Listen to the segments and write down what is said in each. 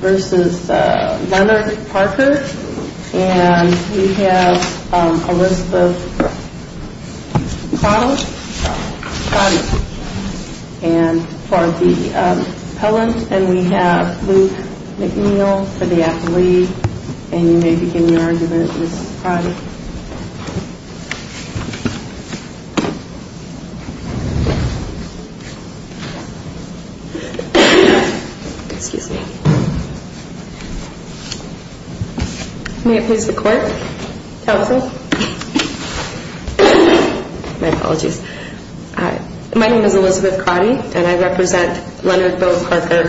v. Leonard Parker and we have Elisabeth Cottle and for the appellant and we have Luke McNeil for the athlete may it please the court, counsel my apologies my name is Elisabeth Cotty and I represent Leonard Bill Parker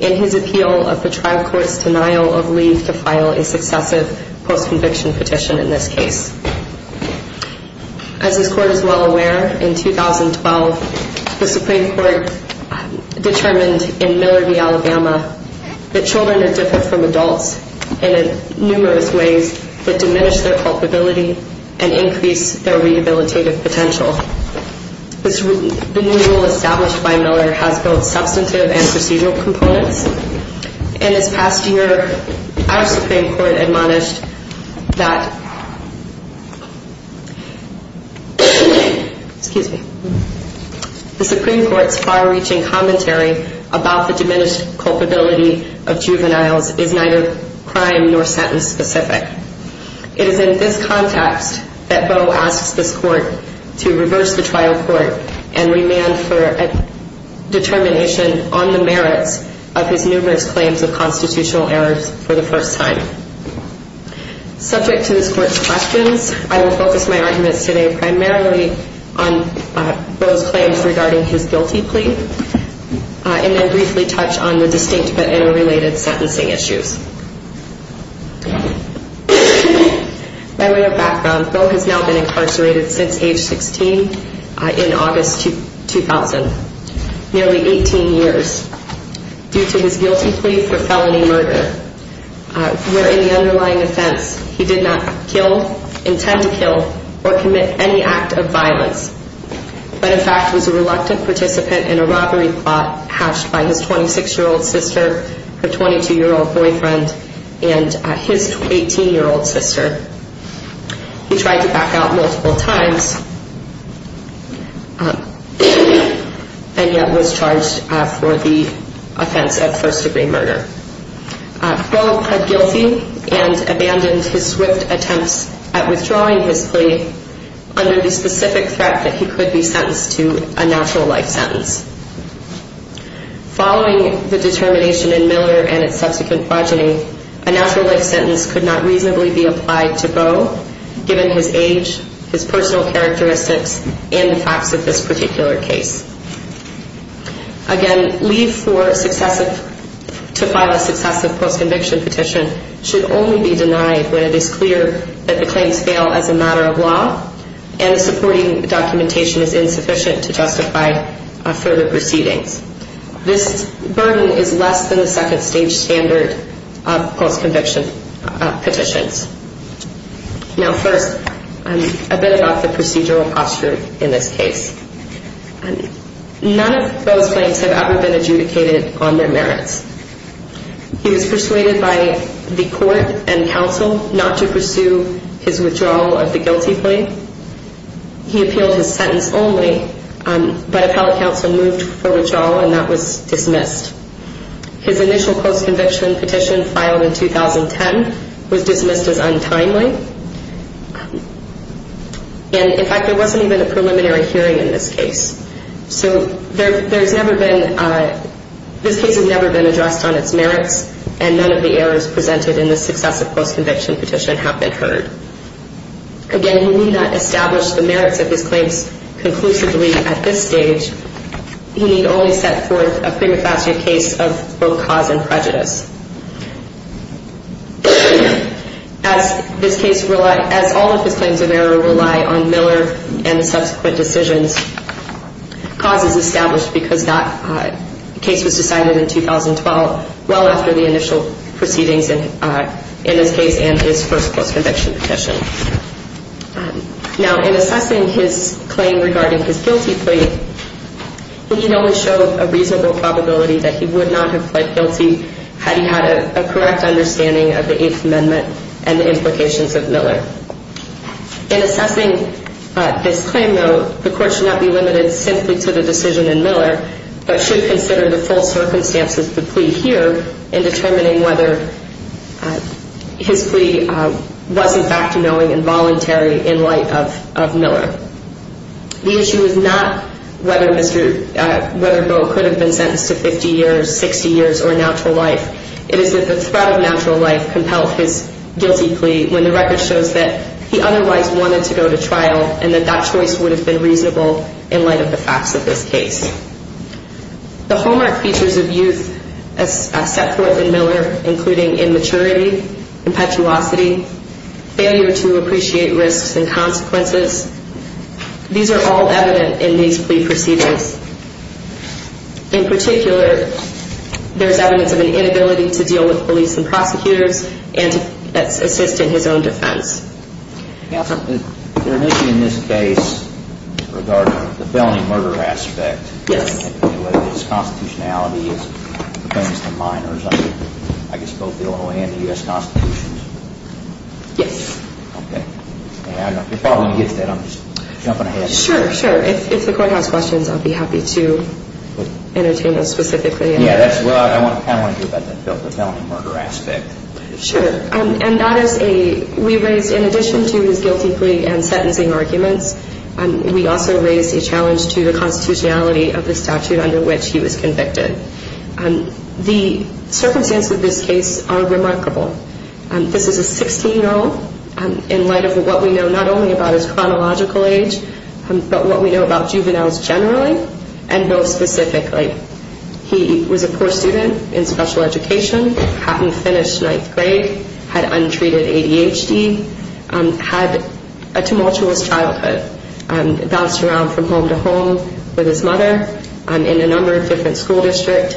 in his appeal of the trial court's denial of leave to file a successive post conviction petition in this case as this court is well aware, in 2012 the Supreme Court determined in Miller v. Alabama that children are different from adults in numerous ways that diminish their culpability and increase their rehabilitative potential. The new rule established by Miller has both substantive and procedural components and this past year our Supreme Court admonished that excuse me the Supreme Court's far reaching commentary about the diminished culpability of juveniles is neither crime nor sentence specific. It is in this context that Boe asks this court to reverse the trial court and demand for a determination on the merits of his numerous claims of constitutional errors for the first time subject to this court's questions, I will focus my arguments today primarily on Boe's claims regarding his guilty plea and then briefly touch on the distinct but interrelated sentencing issues by way of background, Boe has now been incarcerated since age 16 in August 2000, nearly 18 years due to his guilty plea for felony murder where in the underlying offense he did not kill intend to kill or commit any act of violence but in fact was a reluctant participant in a robbery plot hatched by his 26 year old sister, her 22 year old boyfriend and his 18 year old sister. He tried to back out multiple times and yet was charged for the offense of first degree murder. Boe pled guilty and abandoned his swift attempts at withdrawing his plea under the specific threat that he could be sentenced to a natural life sentence following the determination in Miller and its subsequent progeny, a natural life sentence could not reasonably be applied to Boe given his age, his personal characteristics and the facts of this particular case Again, leave for successive to file a successive post conviction petition should only be denied when it is clear that the claims fail as a matter of law and supporting documentation is insufficient to justify further proceedings. This burden is less than the second stage standard of post conviction petitions Now first, a bit about the procedural posture in this case. None of Boe's claims have ever been adjudicated on their merits. He was persuaded by the court and counsel not to pursue his withdrawal of the guilty plea. He appealed his sentence only but appellate counsel moved for withdrawal and that was dismissed His initial post conviction petition filed in 2010 was dismissed as untimely and in fact there wasn't even a preliminary hearing in this case. So there's never been this case has never been addressed on its merits and none of the errors presented in the successive post conviction petition have been heard Again, we need not establish the merits of his claims conclusively at this stage. We need only set forth a prima facie case of both cause and prejudice As all of his claims of error rely on Miller and the subsequent decisions cause is established because that case was decided in 2012 well after the initial proceedings in this case and his first post conviction petition Now in assessing his claim regarding his guilty plea he showed a reasonable probability that he would not have pled guilty had he had a correct understanding of the Eighth Amendment and the implications of Miller. In assessing this claim though, the court should not be limited simply to the decision in Miller but should consider the full circumstances of the plea here in determining whether his plea was in fact knowing and voluntary in light of Miller The issue is not whether Bo could have been sentenced to life. It is that the threat of natural life compelled his guilty plea when the record shows that he otherwise wanted to go to trial and that that choice would have been reasonable in light of the facts of this case The hallmark features of youth as set forth in Miller including immaturity, impetuosity, failure to appreciate risks and consequences. These are all evident in these plea proceedings. In particular there is evidence of an inability to deal with police and prosecutors and to assist in his own defense. Is there an issue in this case regarding the felony murder aspect? Yes. Whether his constitutionality pertains to minors under both the Illinois and the U.S. Constitution? Yes. Okay. Sure, sure. If the court has questions I would be happy to entertain them specifically. Sure. And that is a, we raised in addition to his guilty plea and sentencing arguments, we also raised a challenge to the constitutionality of the statute under which he was convicted The circumstances of this case are remarkable This is a 16 year old in light of what we know not only about his chronological age, but what we know about juveniles generally and those specifically. He was a poor student in special education, hadn't finished 9th grade, had untreated ADHD, had a tumultuous childhood bounced around from home to home with his mother in a number of different school districts,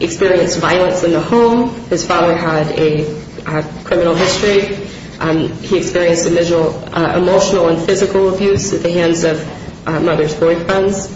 experienced violence in the home, his father had a criminal history he experienced emotional and physical abuse at the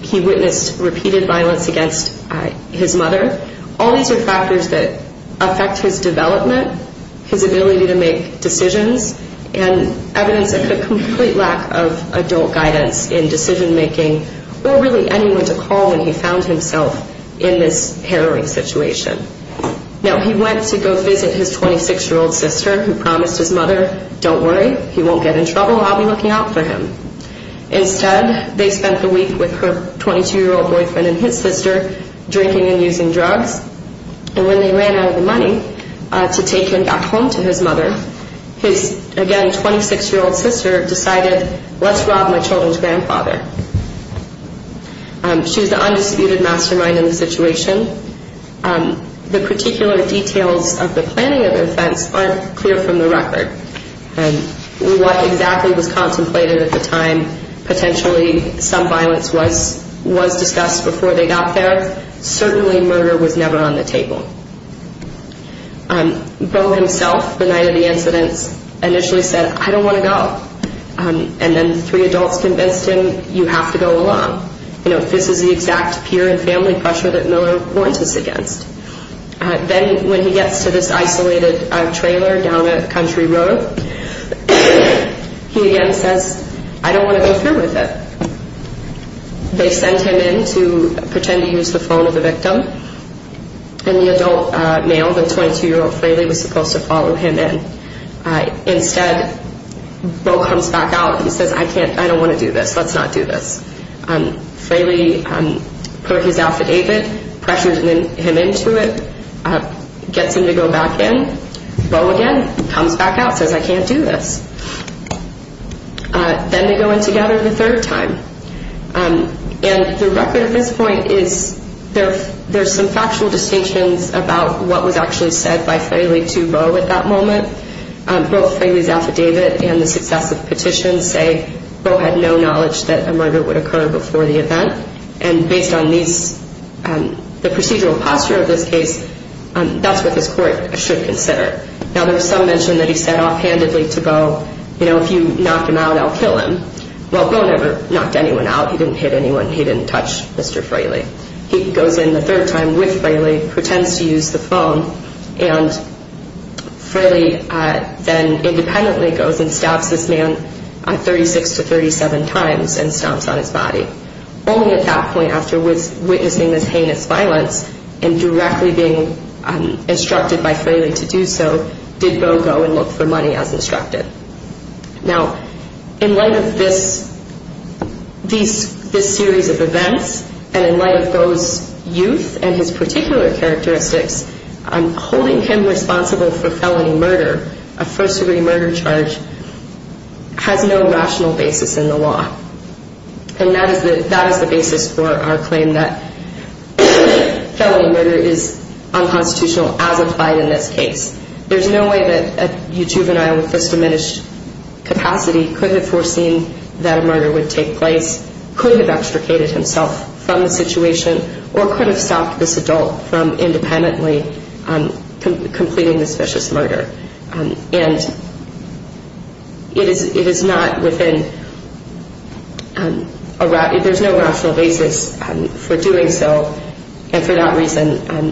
he witnessed repeated violence against his mother. All these are factors that affect his development his ability to make decisions and evidence of a complete lack of adult guidance in decision making or really anyone to call when he found himself in this harrowing situation Now he went to go visit his 26 year old sister who promised his mother, don't worry, he won't get in trouble, I'll be looking out for him Instead, they spent the week with her 22 year old boyfriend and his sister, drinking and using drugs and when they ran out of the money to take him back home to his mother his, again, 26 year old sister decided, let's rob my children's grandfather She was the undisputed mastermind in the situation. The particular details of the planning of the offense aren't clear from the record What exactly was contemplated at the time potentially some violence was discussed before they got there certainly murder was never on the table Beau himself, the night of the incidents, initially said I don't want to go. And then three adults convinced him you have to go along. This is the exact peer and family pressure that Miller warned us against. Then when he gets to this isolated trailer down a country road he again says, I don't want to go through with it They sent him in to pretend to use the phone of the victim and the adult male, the 22 year old Fraley was supposed to follow him in Instead, Beau comes back out and says I don't want to do this, let's not do this Fraley put his affidavit, pressured him into it gets him to go back in. Beau again comes back out says I can't do this. Then they go in together the third time. And the record at this point is there's some factual distinctions about what was actually said by Fraley to Beau at that moment. Both Fraley's affidavit and the successive petitions say Beau had no knowledge that a murder would occur before the event. And based on these the procedural posture of this case, that's what this court should consider. Now there's some mention that he said offhandedly to Beau you know, if you knock him out I'll kill him. Well Beau never knocked anyone out. He didn't hit anyone. He didn't touch Mr. Fraley. He goes in the third time with Fraley, pretends to use the phone and Fraley then independently goes and stabs this man 36 to 37 times and stomps on his body only at that point after witnessing this heinous violence and directly being instructed by Fraley to do so did Beau go and look for money as instructed. Now in light of this series of events and in light of Beau's youth and his particular characteristics holding him responsible for felony murder, a first degree murder charge, has no rational basis in the law and that is the basis for our claim that felony murder is unconstitutional as applied in this case. There's no way that a juvenile with this diminished capacity could have foreseen that a murder would take place could have extricated himself from the situation or could have stopped this adult from independently completing this vicious murder. And it is not within, there's no rational basis for doing so and for that reason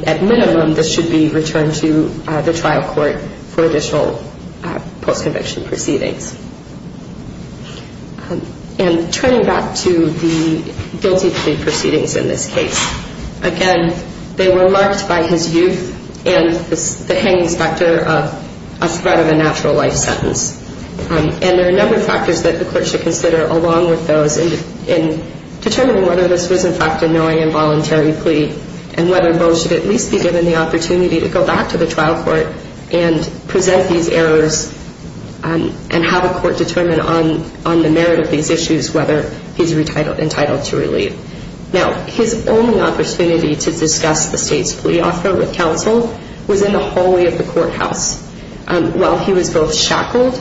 at minimum this should be returned to the trial court for additional post-conviction proceedings. And turning back to the guilty plea proceedings in this case, again they were marked by his youth and the hanging specter of a threat of a natural life sentence. And there are a number of factors that the court should consider along with those in determining whether this was in fact a knowing and voluntary plea and whether Beau should at least be given the opportunity to go back to the trial court and present these errors and have a court determine on the merit of these issues whether he's entitled to relief. Now his only opportunity to discuss the state's plea offer with counsel was in the hallway of the courthouse while he was both shackled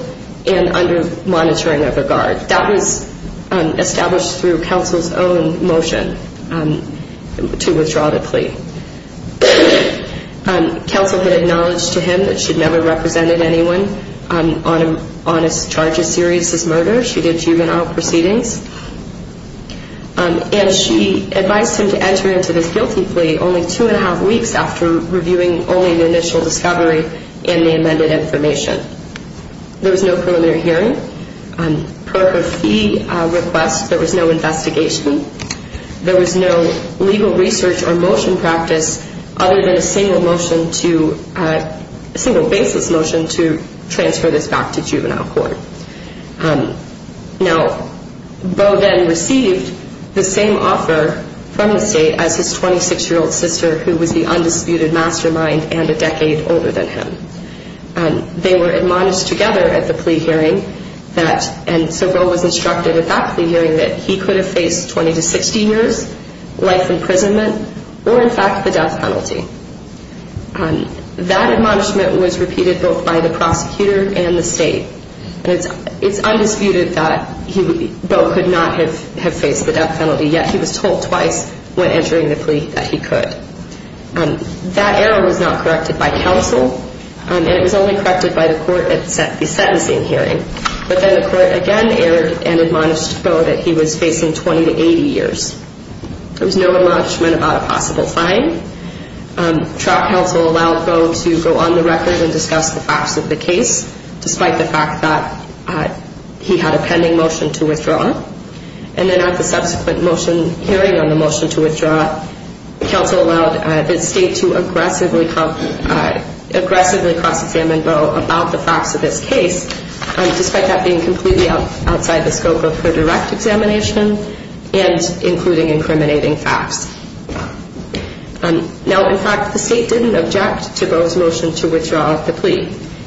and under monitoring of a guard. That was established through counsel's own motion to withdraw the plea. Counsel had acknowledged to him that she'd never represented anyone on a charge as serious as murder. She did juvenile proceedings and she advised him to enter into this guilty plea only two and a half weeks after reviewing only the initial discovery and the amended information. There was no preliminary hearing. Per her fee request there was no investigation. There was no legal research or motion practice other than a single motion to a single basis motion to transfer this back to juvenile court. Now Beau then received the same offer from the state as his 26-year-old sister who was the undisputed mastermind and a decade older than him. They were admonished together at the plea hearing that and so Beau was instructed at that plea hearing that he could have faced 20 to 60 years life imprisonment or in fact the death penalty. That admonishment was repeated both by the prosecutor and the state. It's undisputed that Beau could not have faced the death penalty yet he was told twice when entering the plea that he could. That error was not corrected by counsel and it was only corrected by the court at the sentencing hearing. But then the court again erred and admonished Beau that he was facing 20 to 80 years. There was no admonishment about a possible fine. Trial counsel allowed Beau to go on the record and discuss the facts of the case despite the fact that he had a pending motion to withdraw. And then at the motion to withdraw, counsel allowed the state to aggressively cross-examine Beau about the facts of this case despite that being completely outside the scope of her direct examination and including incriminating facts. Now in fact the state didn't object to Beau's motion to withdraw the plea.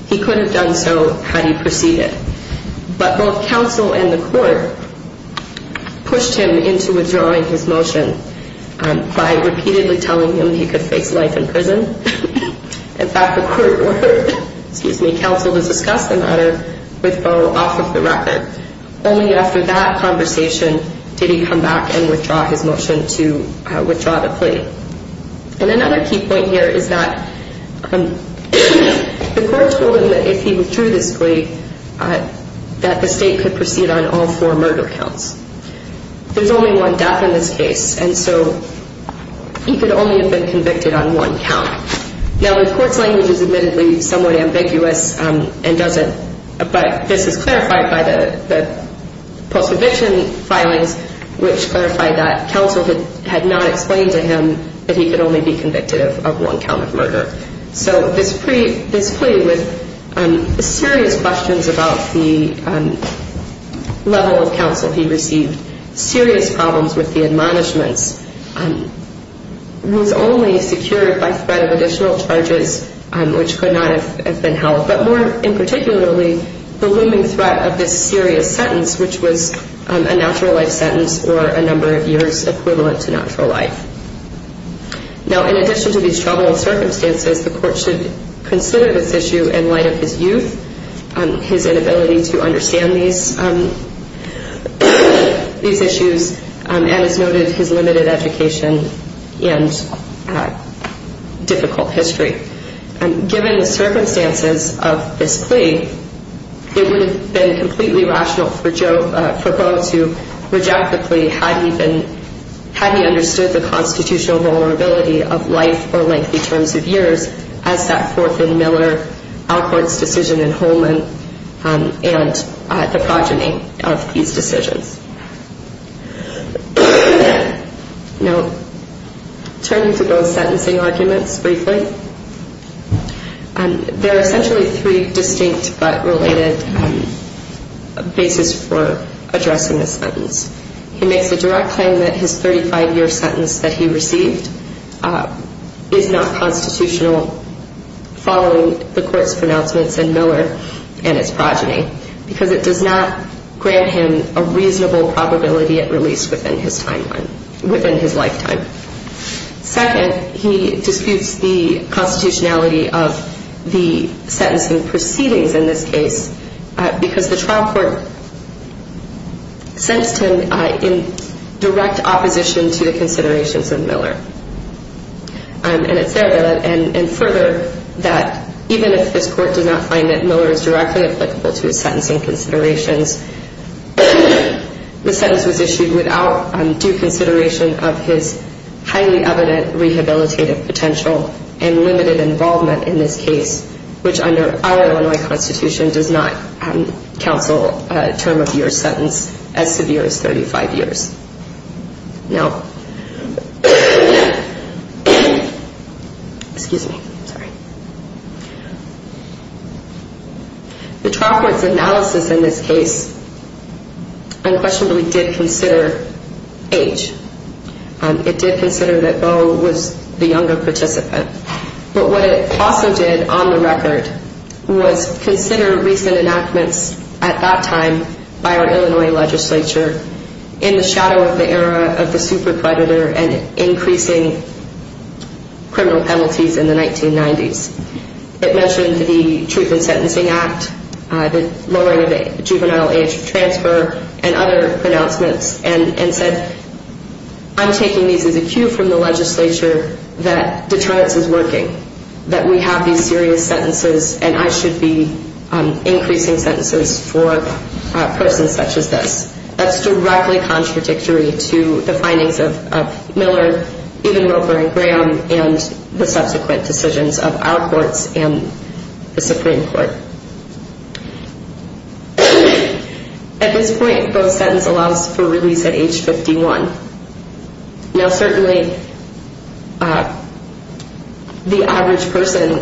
He could have done so had he proceeded. But both counsel and the court pushed him into withdrawing his motion by repeatedly telling him he could face life in prison. In fact the court ordered counsel to discuss the matter with Beau off of the record. Only after that conversation did he come back and withdraw his motion to withdraw the plea. And another key point here is that the court told him that if he withdrew this plea that the state could proceed on all four murder counts. There's only one death in this case and so he could only have been convicted on one count. Now the court's language is admittedly somewhat ambiguous and doesn't, but this is clarified by the post-eviction filings which clarify that counsel had not explained to him that he could only be convicted of one count of murder. So this plea with serious questions about the level of counsel he received, serious problems with the admonishments, was only secured by threat of additional charges which could not have been held. But more in particularly the looming threat of this serious sentence which was a natural life sentence or a number of years equivalent to natural life. Now in addition to these troubling circumstances the court should consider this issue in light of his youth, his inability to understand these issues and as noted his limited education and difficult history. Given the circumstances of this plea it would have been completely rational for Beau to reject the plea had he understood the constitutional vulnerability of life or lengthy terms of years as set forth in Miller Alcourt's decision in Holman and the progeny of these decisions. Now turning to Beau's sentencing arguments briefly, there are essentially three distinct but related basis for addressing this sentence. He makes a direct claim that his 35-year sentence that he received is not constitutional following the court's pronouncements in Miller and its progeny because it does not grant him a reasonable probability at release within his lifetime. Second, he disputes the constitutionality of the sentencing proceedings in this case because the trial court sentenced him in direct opposition to the considerations in Miller and further that even if this court does not find that Miller is directly applicable to his sentencing considerations the sentence was issued without due consideration of his highly evident rehabilitative potential and limited involvement in this case which under our Illinois Constitution does not counsel a term of year sentence as severe as 35 years. Now excuse me, sorry the trial court's analysis in this case unquestionably did consider age. It did consider that Beau was the younger participant but what it also did on the record was consider recent enactments at that time by our Illinois legislature in the shadow of the era of the super predator and increasing criminal penalties in the 1990s. It mentioned the Truth in Sentencing Act the lowering of the juvenile age transfer and other pronouncements and said I'm taking these as a cue from the legislature that deterrence is working, that we have these serious sentences and I should be increasing sentences for a person such as this. That's directly contradictory to the findings of Miller, even Roper and Graham and the subsequent decisions of our courts and the Supreme Court. At this point Beau's sentence allows for release at age 51. Now certainly the average person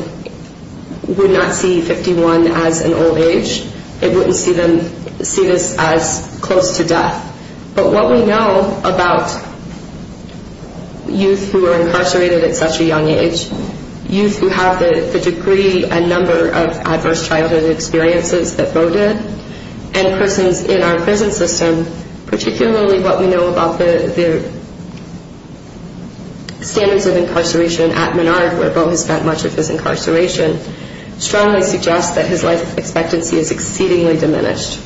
would not see 51 as an old age. It wouldn't see this as close to death. But what we know about youth who are incarcerated at such a young age, youth who have the degree and number of adverse childhood experiences that Beau did and persons in our prison system particularly what we know about the standards of incarceration at Menard where Beau has spent much of his incarceration strongly suggests that his life expectancy is exceedingly diminished.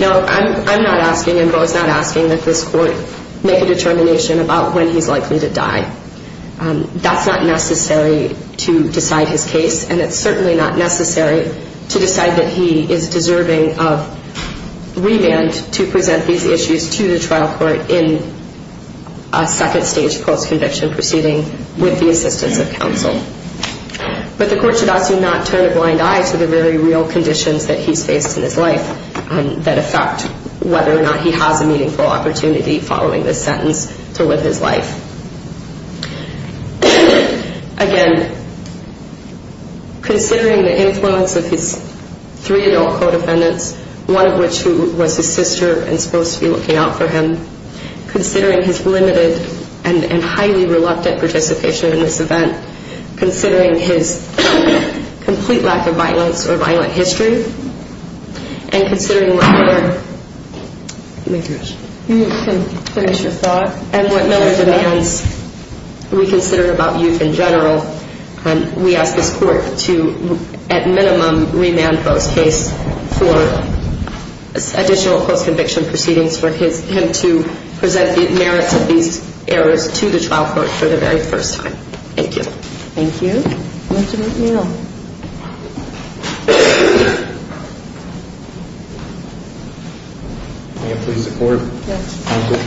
Now I'm not asking and Beau's not asking that this court make a determination about when he's likely to die. That's not necessary to decide his case and it's certainly not necessary to decide that he is deserving of remand to present these issues to the trial court in a second stage post-conviction proceeding with the assistance of counsel. But the court should also not turn a blind eye to the very real conditions that he's faced in his life that affect whether or not he has a meaningful opportunity following this sentence to live his life. Again considering the influence of his three adult co-defendants, one of which was his sister and supposed to be looking out for him, considering his limited and highly reluctant participation in this event, considering his complete lack of violence or violent history and considering what Miller demands we consider about youth in general we ask this court to at minimum remand Beau's case for additional post-conviction proceedings for him to present the merits of these errors to the trial court for the very first time. Thank you. Thank you. Mr. McNeil. May I please record? Yes. Thank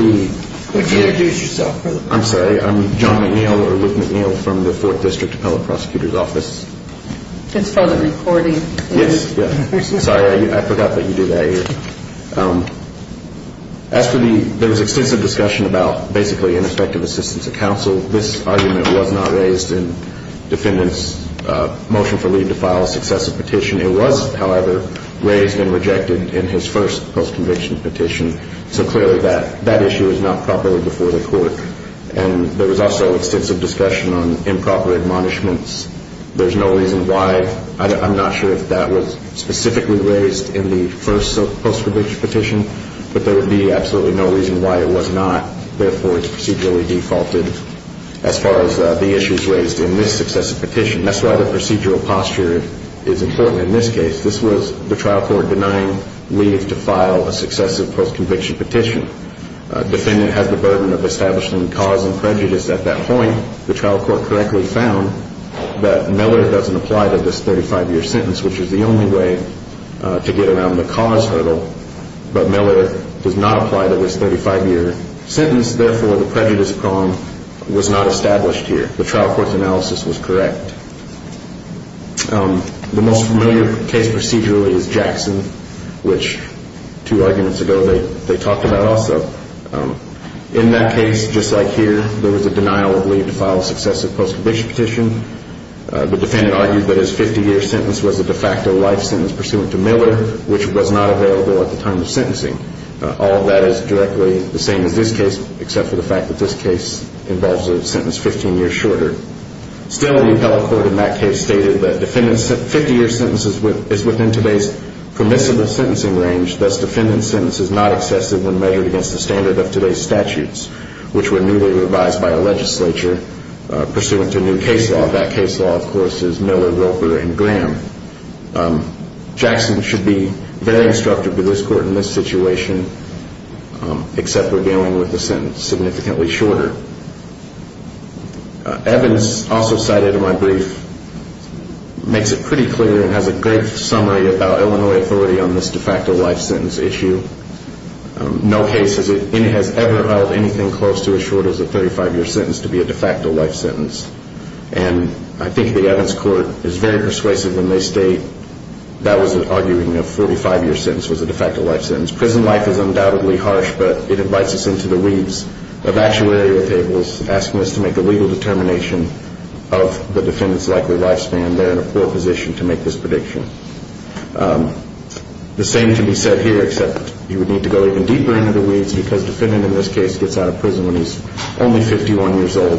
you. Would you introduce yourself? I'm sorry, I'm John McNeil or Luke McNeil from the Fourth District Appellate Prosecutor's Office. It's for the recording. Sorry, I forgot that you do that here. As for the, there was extensive discussion about basically ineffective assistance of counsel. This argument was not raised in defendant's motion for leave to file a successive petition. It was, however, raised and rejected in his first post-conviction petition so clearly that issue is not properly before the court and there was also extensive discussion on improper admonishments. There's no reason why, I'm not sure if that was specifically raised in the first post-conviction petition, but there would be absolutely no reason why it was not. Therefore, it's procedurally defaulted as far as the issues raised in this successive petition. That's why the procedural posture is important in this case. This was the trial court denying leave to file a successive post-conviction petition. Defendant has the burden of establishing cause and prejudice at that point. The trial court correctly found that Miller doesn't apply to this 35-year sentence, which is the only way to get around the cause hurdle, but Miller does not apply to this 35-year sentence. Therefore, the prejudice prong was not established here. The trial court's analysis was correct. The most familiar case procedurally is Jackson, which two arguments ago they talked about also. In that case, just like here, there was a denial of leave to file a successive post-conviction petition. The defendant argued that his 50-year sentence was a de facto life sentence pursuant to Miller, which was not available at the time of sentencing. All of that is directly the same as this case, except for the fact that this case involves a sentence 15 years shorter. Still, the appellate court in that case stated that defendant's 50-year sentence is within today's permissible sentencing range, thus defendant's sentence is not excessive when measured against the standard of today's statutes, which were newly revised by a legislature pursuant to a new case law. That case law, of course, is Miller, Roper, and Graham. Jackson should be very instructive to this court in this situation, except for dealing with the sentence significantly shorter. Evans, also cited in my brief, makes it pretty clear and has a great summary about Illinois authority on this de facto life sentence issue. No case has ever held anything close to short as a 35-year sentence to be a de facto life sentence. I think the Evans court is very persuasive when they state that was an arguing of 45-year sentence was a de facto life sentence. Prison life is undoubtedly harsh, but it invites us into the weeds of actuary with Ables asking us to make a legal determination of the defendant's likely lifespan. They're in a poor position to make this prediction. The same can be said here, except you would need to go even deeper into the weeds because the defendant in this case gets out of prison when he's only 51 years old.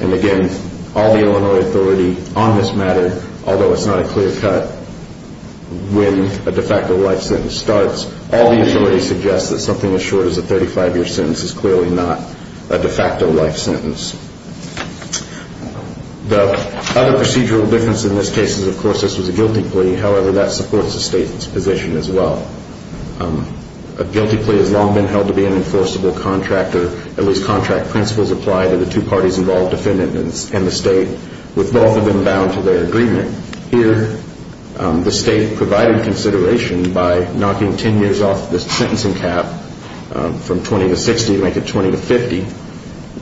And again, all the Illinois authority on this matter, although it's not a clear cut when a de facto life sentence starts, all the authority suggests that something as short as a 35-year sentence is clearly not a de facto life sentence. The other procedural difference in this case is, of course, this was a guilty plea. However, that supports the state's position as well. A guilty plea has long been held to be an enforceable contract or at least contract principles apply to the two parties involved, defendant and the state, with both of them bound to their agreement. Here, the state provided consideration by knocking 10 years off the sentencing cap from 20 to 60 to make it 20 to 50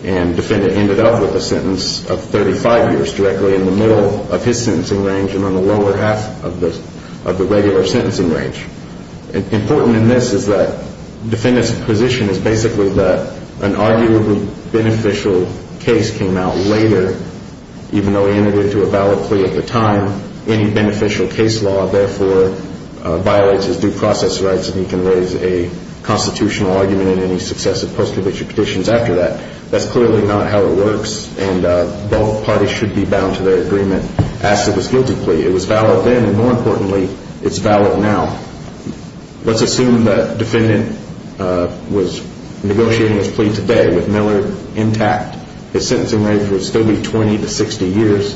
and defendant ended up with a sentence of 35 years directly in the middle of his sentencing range and on the lower half of the regular sentencing range. Important in this is that defendant's position is basically that an arguably beneficial case came out later, even though he entered into a valid plea at the time. Any beneficial case law, therefore, violates his due process rights and he can raise a constitutional argument in any successive post-conviction petitions after that. That's clearly not how it works and both parties should be bound to their agreement as to this guilty plea. It was valid then and more importantly, it's valid now. Let's assume that defendant was negotiating his plea today with Miller intact. His sentencing range would still be 20 to 60 years,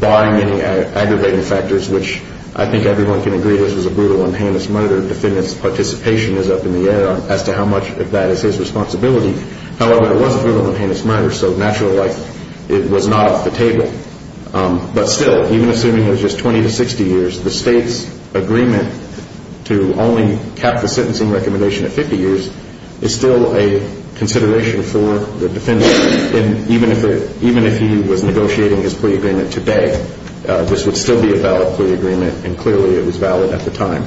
barring any aggravating factors, which I think everyone can agree this was a brutal and heinous murder. Defendant's participation is up in the air as to how much of that is his responsibility. However, it was a brutal and heinous murder, so naturally it was not off the table. But still, even assuming it was just 20 to 60 years, the State's agreement to only cap the sentencing recommendation at 50 years is still a consideration for the defendant. Even if he was negotiating his plea agreement today, this would still be a valid plea agreement and clearly it was valid at the time.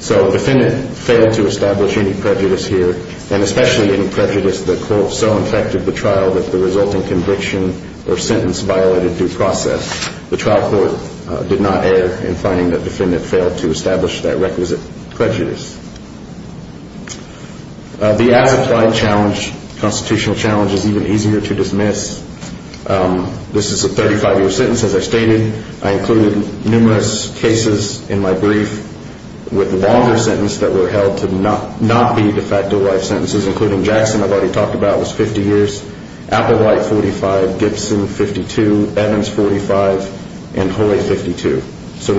So defendant failed to establish any prejudice here, and especially any prejudice that so infected the trial that the resulting conviction or sentence violated due process. The trial court did not err in finding that defendant failed to establish that requisite prejudice. The as-applied challenge, constitutional challenge, is even easier to dismiss. This is a 35-year sentence, as I stated. I included numerous cases in my brief with a longer sentence that were held to not be de facto life sentences, including Jackson I've already talked about was 50 years, Applewhite, 45, Gibson, 52, Evans, 45, and Hoy, 52. So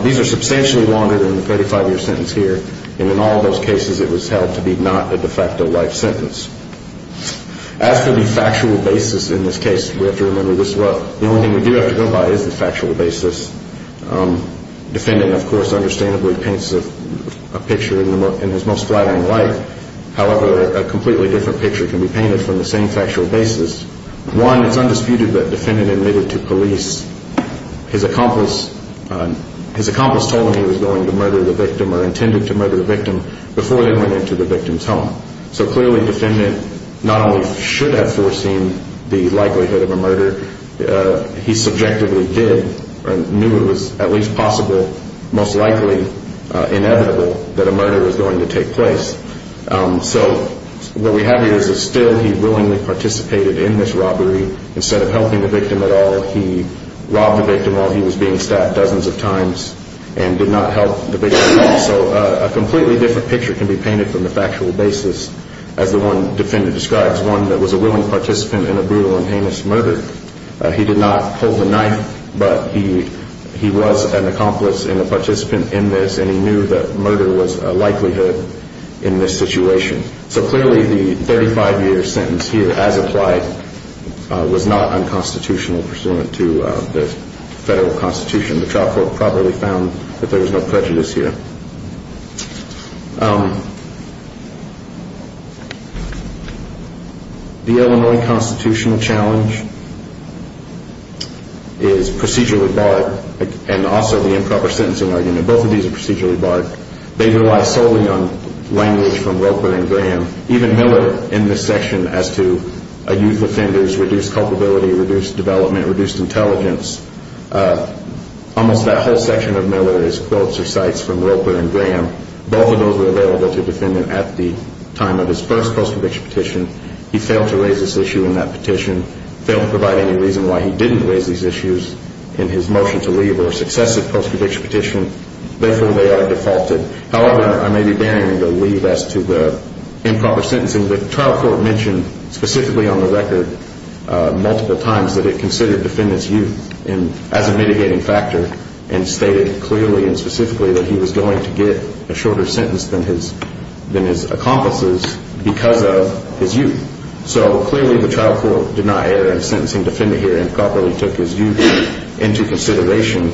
these are substantially longer than the 35-year sentence here, and in all those cases it was held to be not a de facto life sentence. As for the factual basis in this case, we have to remember the only thing we do have to go by is the factual basis. The defendant, of course, understandably paints a picture in his most flattering light. However, a completely different picture can be painted from the same factual basis. One, it's undisputed that defendant admitted to police his accomplice told him he was going to murder the victim or intended to murder the victim before they went into the victim's home. So clearly defendant not only should have foreseen the likelihood of a murder, he subjectively did, or knew it was at least possible, most likely inevitable, that a murder was going to take place. So what we have here is that still he willingly participated in this robbery. Instead of helping the victim at all, he robbed the victim while he was being stabbed dozens of times and did not help the victim at all. So a completely different picture can be painted from the factual basis. As the one defendant describes, one that was a willing participant in a brutal and heinous murder. He did not participate in this and he knew that murder was a likelihood in this situation. So clearly the 35 year sentence here as applied was not unconstitutional pursuant to the federal constitution. The trial court probably found that there was no prejudice here. The Illinois constitutional challenge is procedurally barred and also the improper sentencing argument. Both of these are procedurally barred. They rely solely on language from Roper and Graham. Even Miller in this section as to a youth offender's reduced culpability, reduced development, reduced intelligence. Almost that whole section of Miller is quotes or cites from Roper and Graham. Both of those were available to defendant at the time of his first post-conviction petition. He failed to raise this issue in that petition. Failed to provide any reason why he didn't raise these issues in his motion to leave or successive post-conviction petition. Therefore, they are defaulted. However, I may be daring to leave as to the improper sentencing. The trial court mentioned specifically on the record multiple times that it considered defendant's youth as a mitigating factor and stated clearly and specifically that he was going to get a shorter sentence than his accomplices because of his youth. So clearly the trial court did not err on the side of sentencing defendant here and properly took his youth into consideration.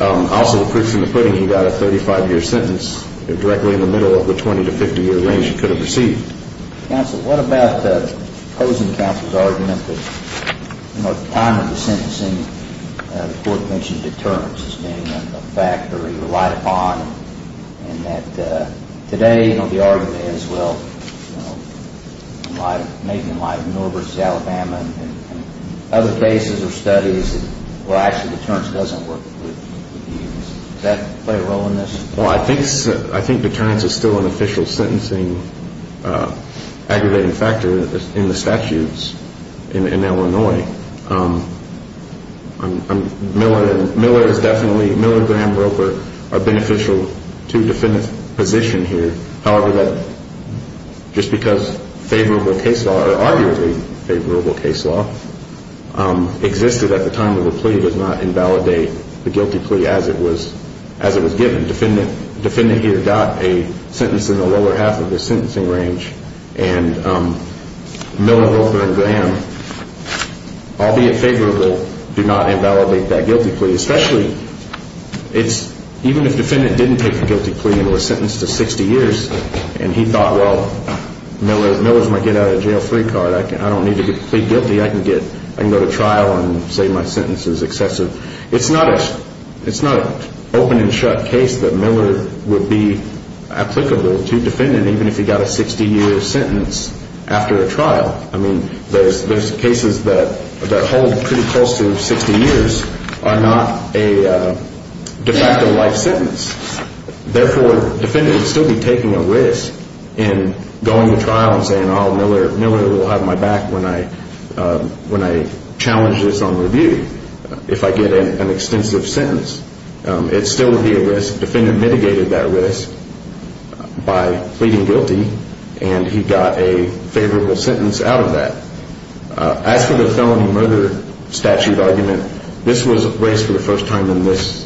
Also, the proof's in the pudding. He got a 35-year sentence directly in the middle of the 20- to 50-year range he could have received. Counsel, what about opposing counsel's argument that the time of the sentencing the court mentioned determines as being a factor he relied upon and that today the argument is, well, maybe like in Norbridge, Alabama and other cases or studies where actually deterrence doesn't work with youth. Does that play a role in this? Well, I think deterrence is still an official sentencing aggravating factor in the statutes in Illinois. Miller is definitely, Miller, Graham, Roper are beneficial to defendant's position here. However, just because favorable case law or arguably favorable case law existed at the time of the plea does not invalidate the guilty plea as it was given. Defendant here got a sentence in the lower half of the sentencing range and Miller, Roper and Graham albeit favorable, do not invalidate that guilty plea. Especially, even if defendant didn't take the guilty plea and was sentenced to 60 years and he thought, well, Miller's my get out of jail free card. I don't need to plead guilty. I can go to trial and say my sentence is excessive. It's not an open and shut case that Miller would be applicable to defendant even if he got a 60 year sentence after a trial. I mean, there's cases that hold pretty close to 60 years are not a de facto life sentence. Therefore, defendant would still be taking a risk in going to trial and saying, oh, Miller will have my back when I challenge this on review if I get an extensive sentence. It still would be a risk. Defendant mitigated that risk by pleading guilty and he got a favorable sentence out of that. As for the felony murder statute argument, this was raised for the first time in this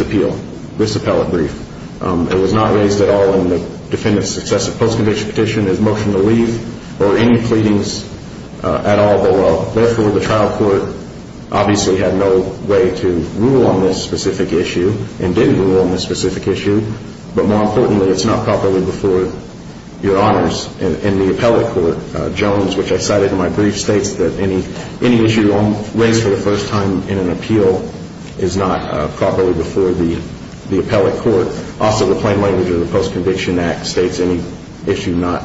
appeal, this appellate brief. It was not raised at all in the defendant's successive post-conviction petition as motion to leave or any pleadings at all. Therefore, the trial court obviously had no way to rule on this specific issue and didn't rule on this specific issue. But more importantly, it's not properly before your honors in the appellate court. Jones, which I cited in my brief, states that any issue raised for the first time in an appeal is not properly before the appellate court. Also, the plain language of the Post-Conviction Act states any issue not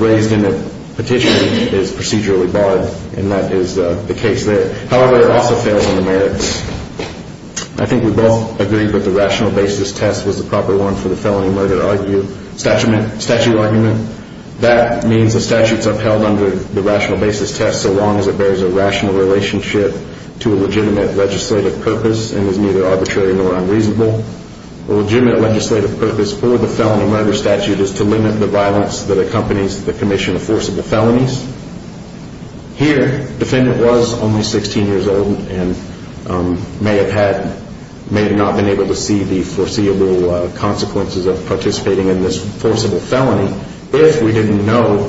raised in the petition is procedurally barred and that is the case there. However, it also fails on the merits. I think we both agree that the rational basis test was the proper one for the felony murder statute argument. That means the statute's upheld under the rational basis test so long as it bears a rational relationship to a legitimate legislative purpose and is neither arbitrary nor unreasonable. A legitimate legislative purpose for the felony murder statute is to limit the violence that accompanies the commission of forcible felonies. Here, the defendant was only 16 years old and may have not been able to see the foreseeable consequences of participating in this forcible felony if we didn't know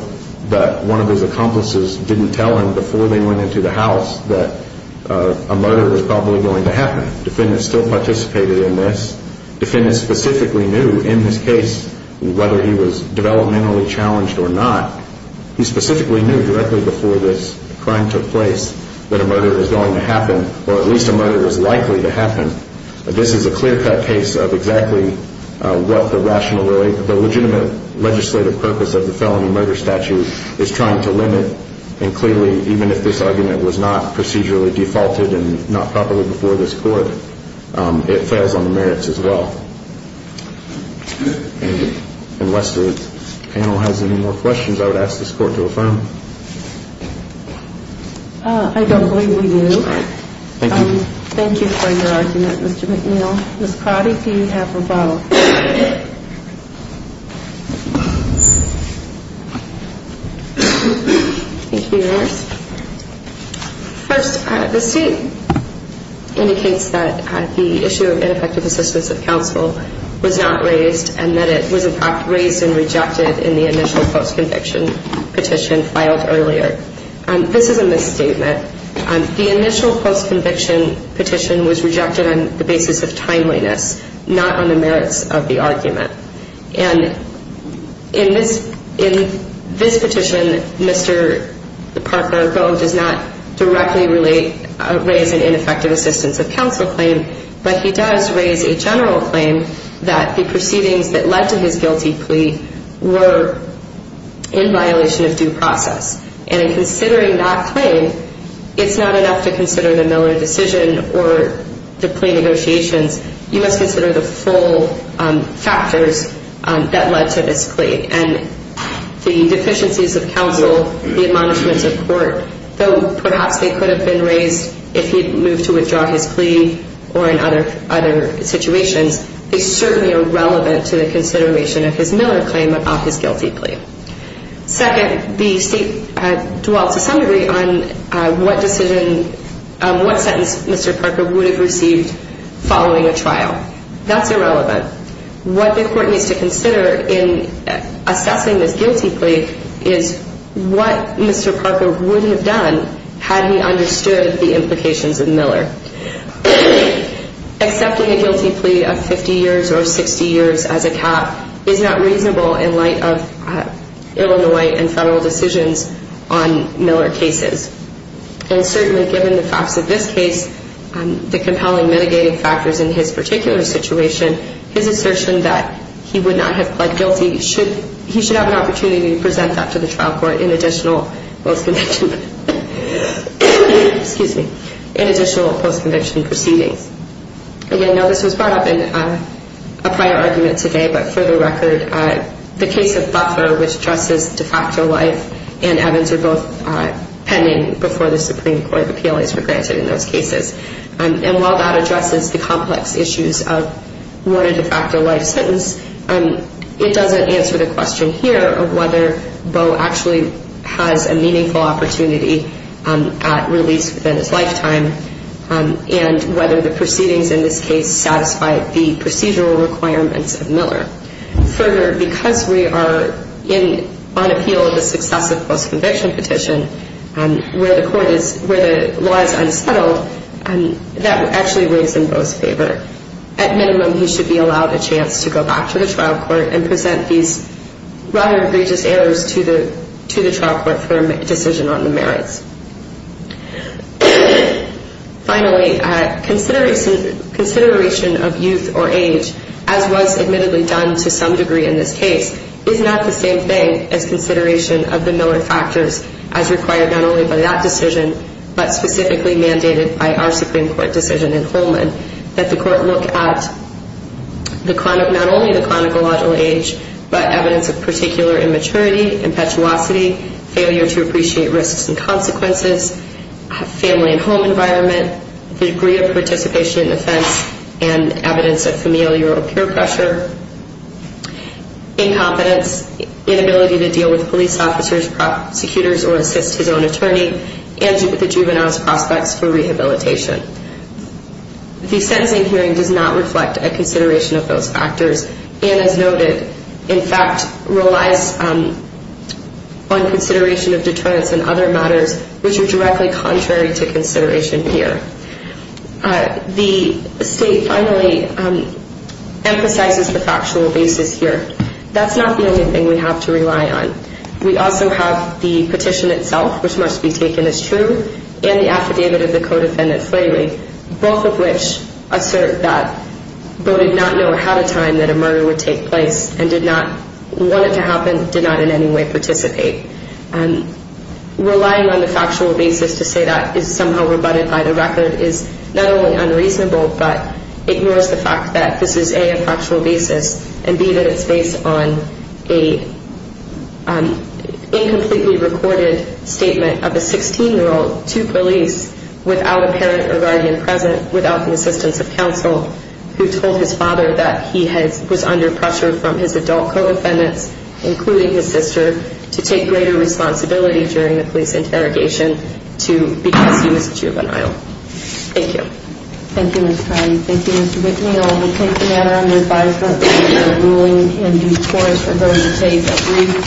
that one of his accomplices didn't tell him before they went into the house that a murder was probably going to happen. The defendant still participated in this. The defendant specifically knew in this case whether he was developmentally challenged or not. He specifically knew directly before this crime took place that a murder was going to happen or at least a murder was likely to happen. This is a clear-cut case of exactly what the legitimate legislative purpose of the felony murder statute is trying to limit. And clearly, even if this argument was not procedurally defaulted and not properly before this Court, it fails on the merits as well. Unless the panel has any more questions, I would ask this Court to affirm. I don't believe we do. Thank you. Thank you for your argument, Mr. McNeil. Ms. Crowdy, do you have a vote? Thank you, Your Honors. First, the State indicates that the issue of ineffective assistance of counsel was not raised and that it was, in fact, raised and rejected in the initial post-conviction petition filed earlier. This is a misstatement. The initial post-conviction petition was rejected on the basis of timeliness, not on the merits of the argument. And in this petition, Mr. Parker does not directly raise an ineffective assistance of counsel claim, but he does raise a general claim that the proceedings that led to his guilty plea were in violation of due process. And in considering that claim, it's not enough to consider the Miller decision or the plea negotiations. You must consider the full factors that led to this plea. And the deficiencies of counsel, the admonishments of court, though perhaps they could have been raised if he'd moved to withdraw his plea or in other situations, they certainly are relevant to the consideration of his Miller claim of his guilty plea. Second, the State dwells to some degree on what decision, what sentence Mr. Parker should have made following a trial. That's irrelevant. What the court needs to consider in assessing this guilty plea is what Mr. Parker would have done had he understood the implications of Miller. Accepting a guilty plea of 50 years or 60 years as a cap is not reasonable in light of Illinois and federal decisions on Miller cases. And certainly given the facts of this case, the compelling mitigating factors in his particular situation, his assertion that he would not have pled guilty should, he should have an opportunity to present that to the trial court in additional post-conviction, excuse me, in additional post-conviction proceedings. Again, now this was brought up in a prior argument today, but for the record, the case of Buffer, which addresses de facto life, and Evans are both pending before the Supreme Court of Appeals for granted in those cases. And while that addresses the complex issues of what a de facto life sentence, it doesn't answer the question here of whether Beau actually has a meaningful opportunity at release within his lifetime and whether the proceedings in this case satisfy the procedural requirements of Miller. Further, because we are on appeal of the successive post-conviction petition, where the law is unsettled, that actually weighs in Beau's favor. At minimum, he should be allowed a chance to go back to the trial court and present these rather egregious errors to the trial court for a decision on the merits. Finally, consideration of youth or age, as was admittedly done to some degree in this case, is not the same thing as consideration of the Miller factors as required not only by that decision, but specifically mandated by our Supreme Court decision in Holman, that the court look at not only the chronological age, but evidence of particular immaturity, impetuosity, failure to appreciate risks and consequences, family and home environment, the degree of participation in offense, and evidence of familial peer pressure, incompetence, inability to deal with police officers, prosecutors, or assist his own attorney, and the juvenile's prospects for rehabilitation. The sentencing hearing does not reflect a consideration of those factors, and as noted, in fact, relies on consideration of deterrence and other matters which are directly contrary to consideration here. The State finally emphasizes the factual basis here. That's not the only thing we have to rely on. We also have the petition itself, which must be taken as true, and the affidavit of the co-defendant Slavery, both of which assert that Bowdoin did not know ahead of time that a murder would take place and did not want it to happen, did not in any way participate. Relying on the factual basis to say that is somehow rebutted by the record is not only unreasonable, but ignores the fact that this is, A, a factual basis, and B, that it's based on an incompletely recorded statement of a 16-year-old to police without a parent or guardian present, without the assistance of counsel who told his father that he was under pressure from his adult co-defendants, including his sister, to take greater responsibility during the police interrogation because he was juvenile. Thank you.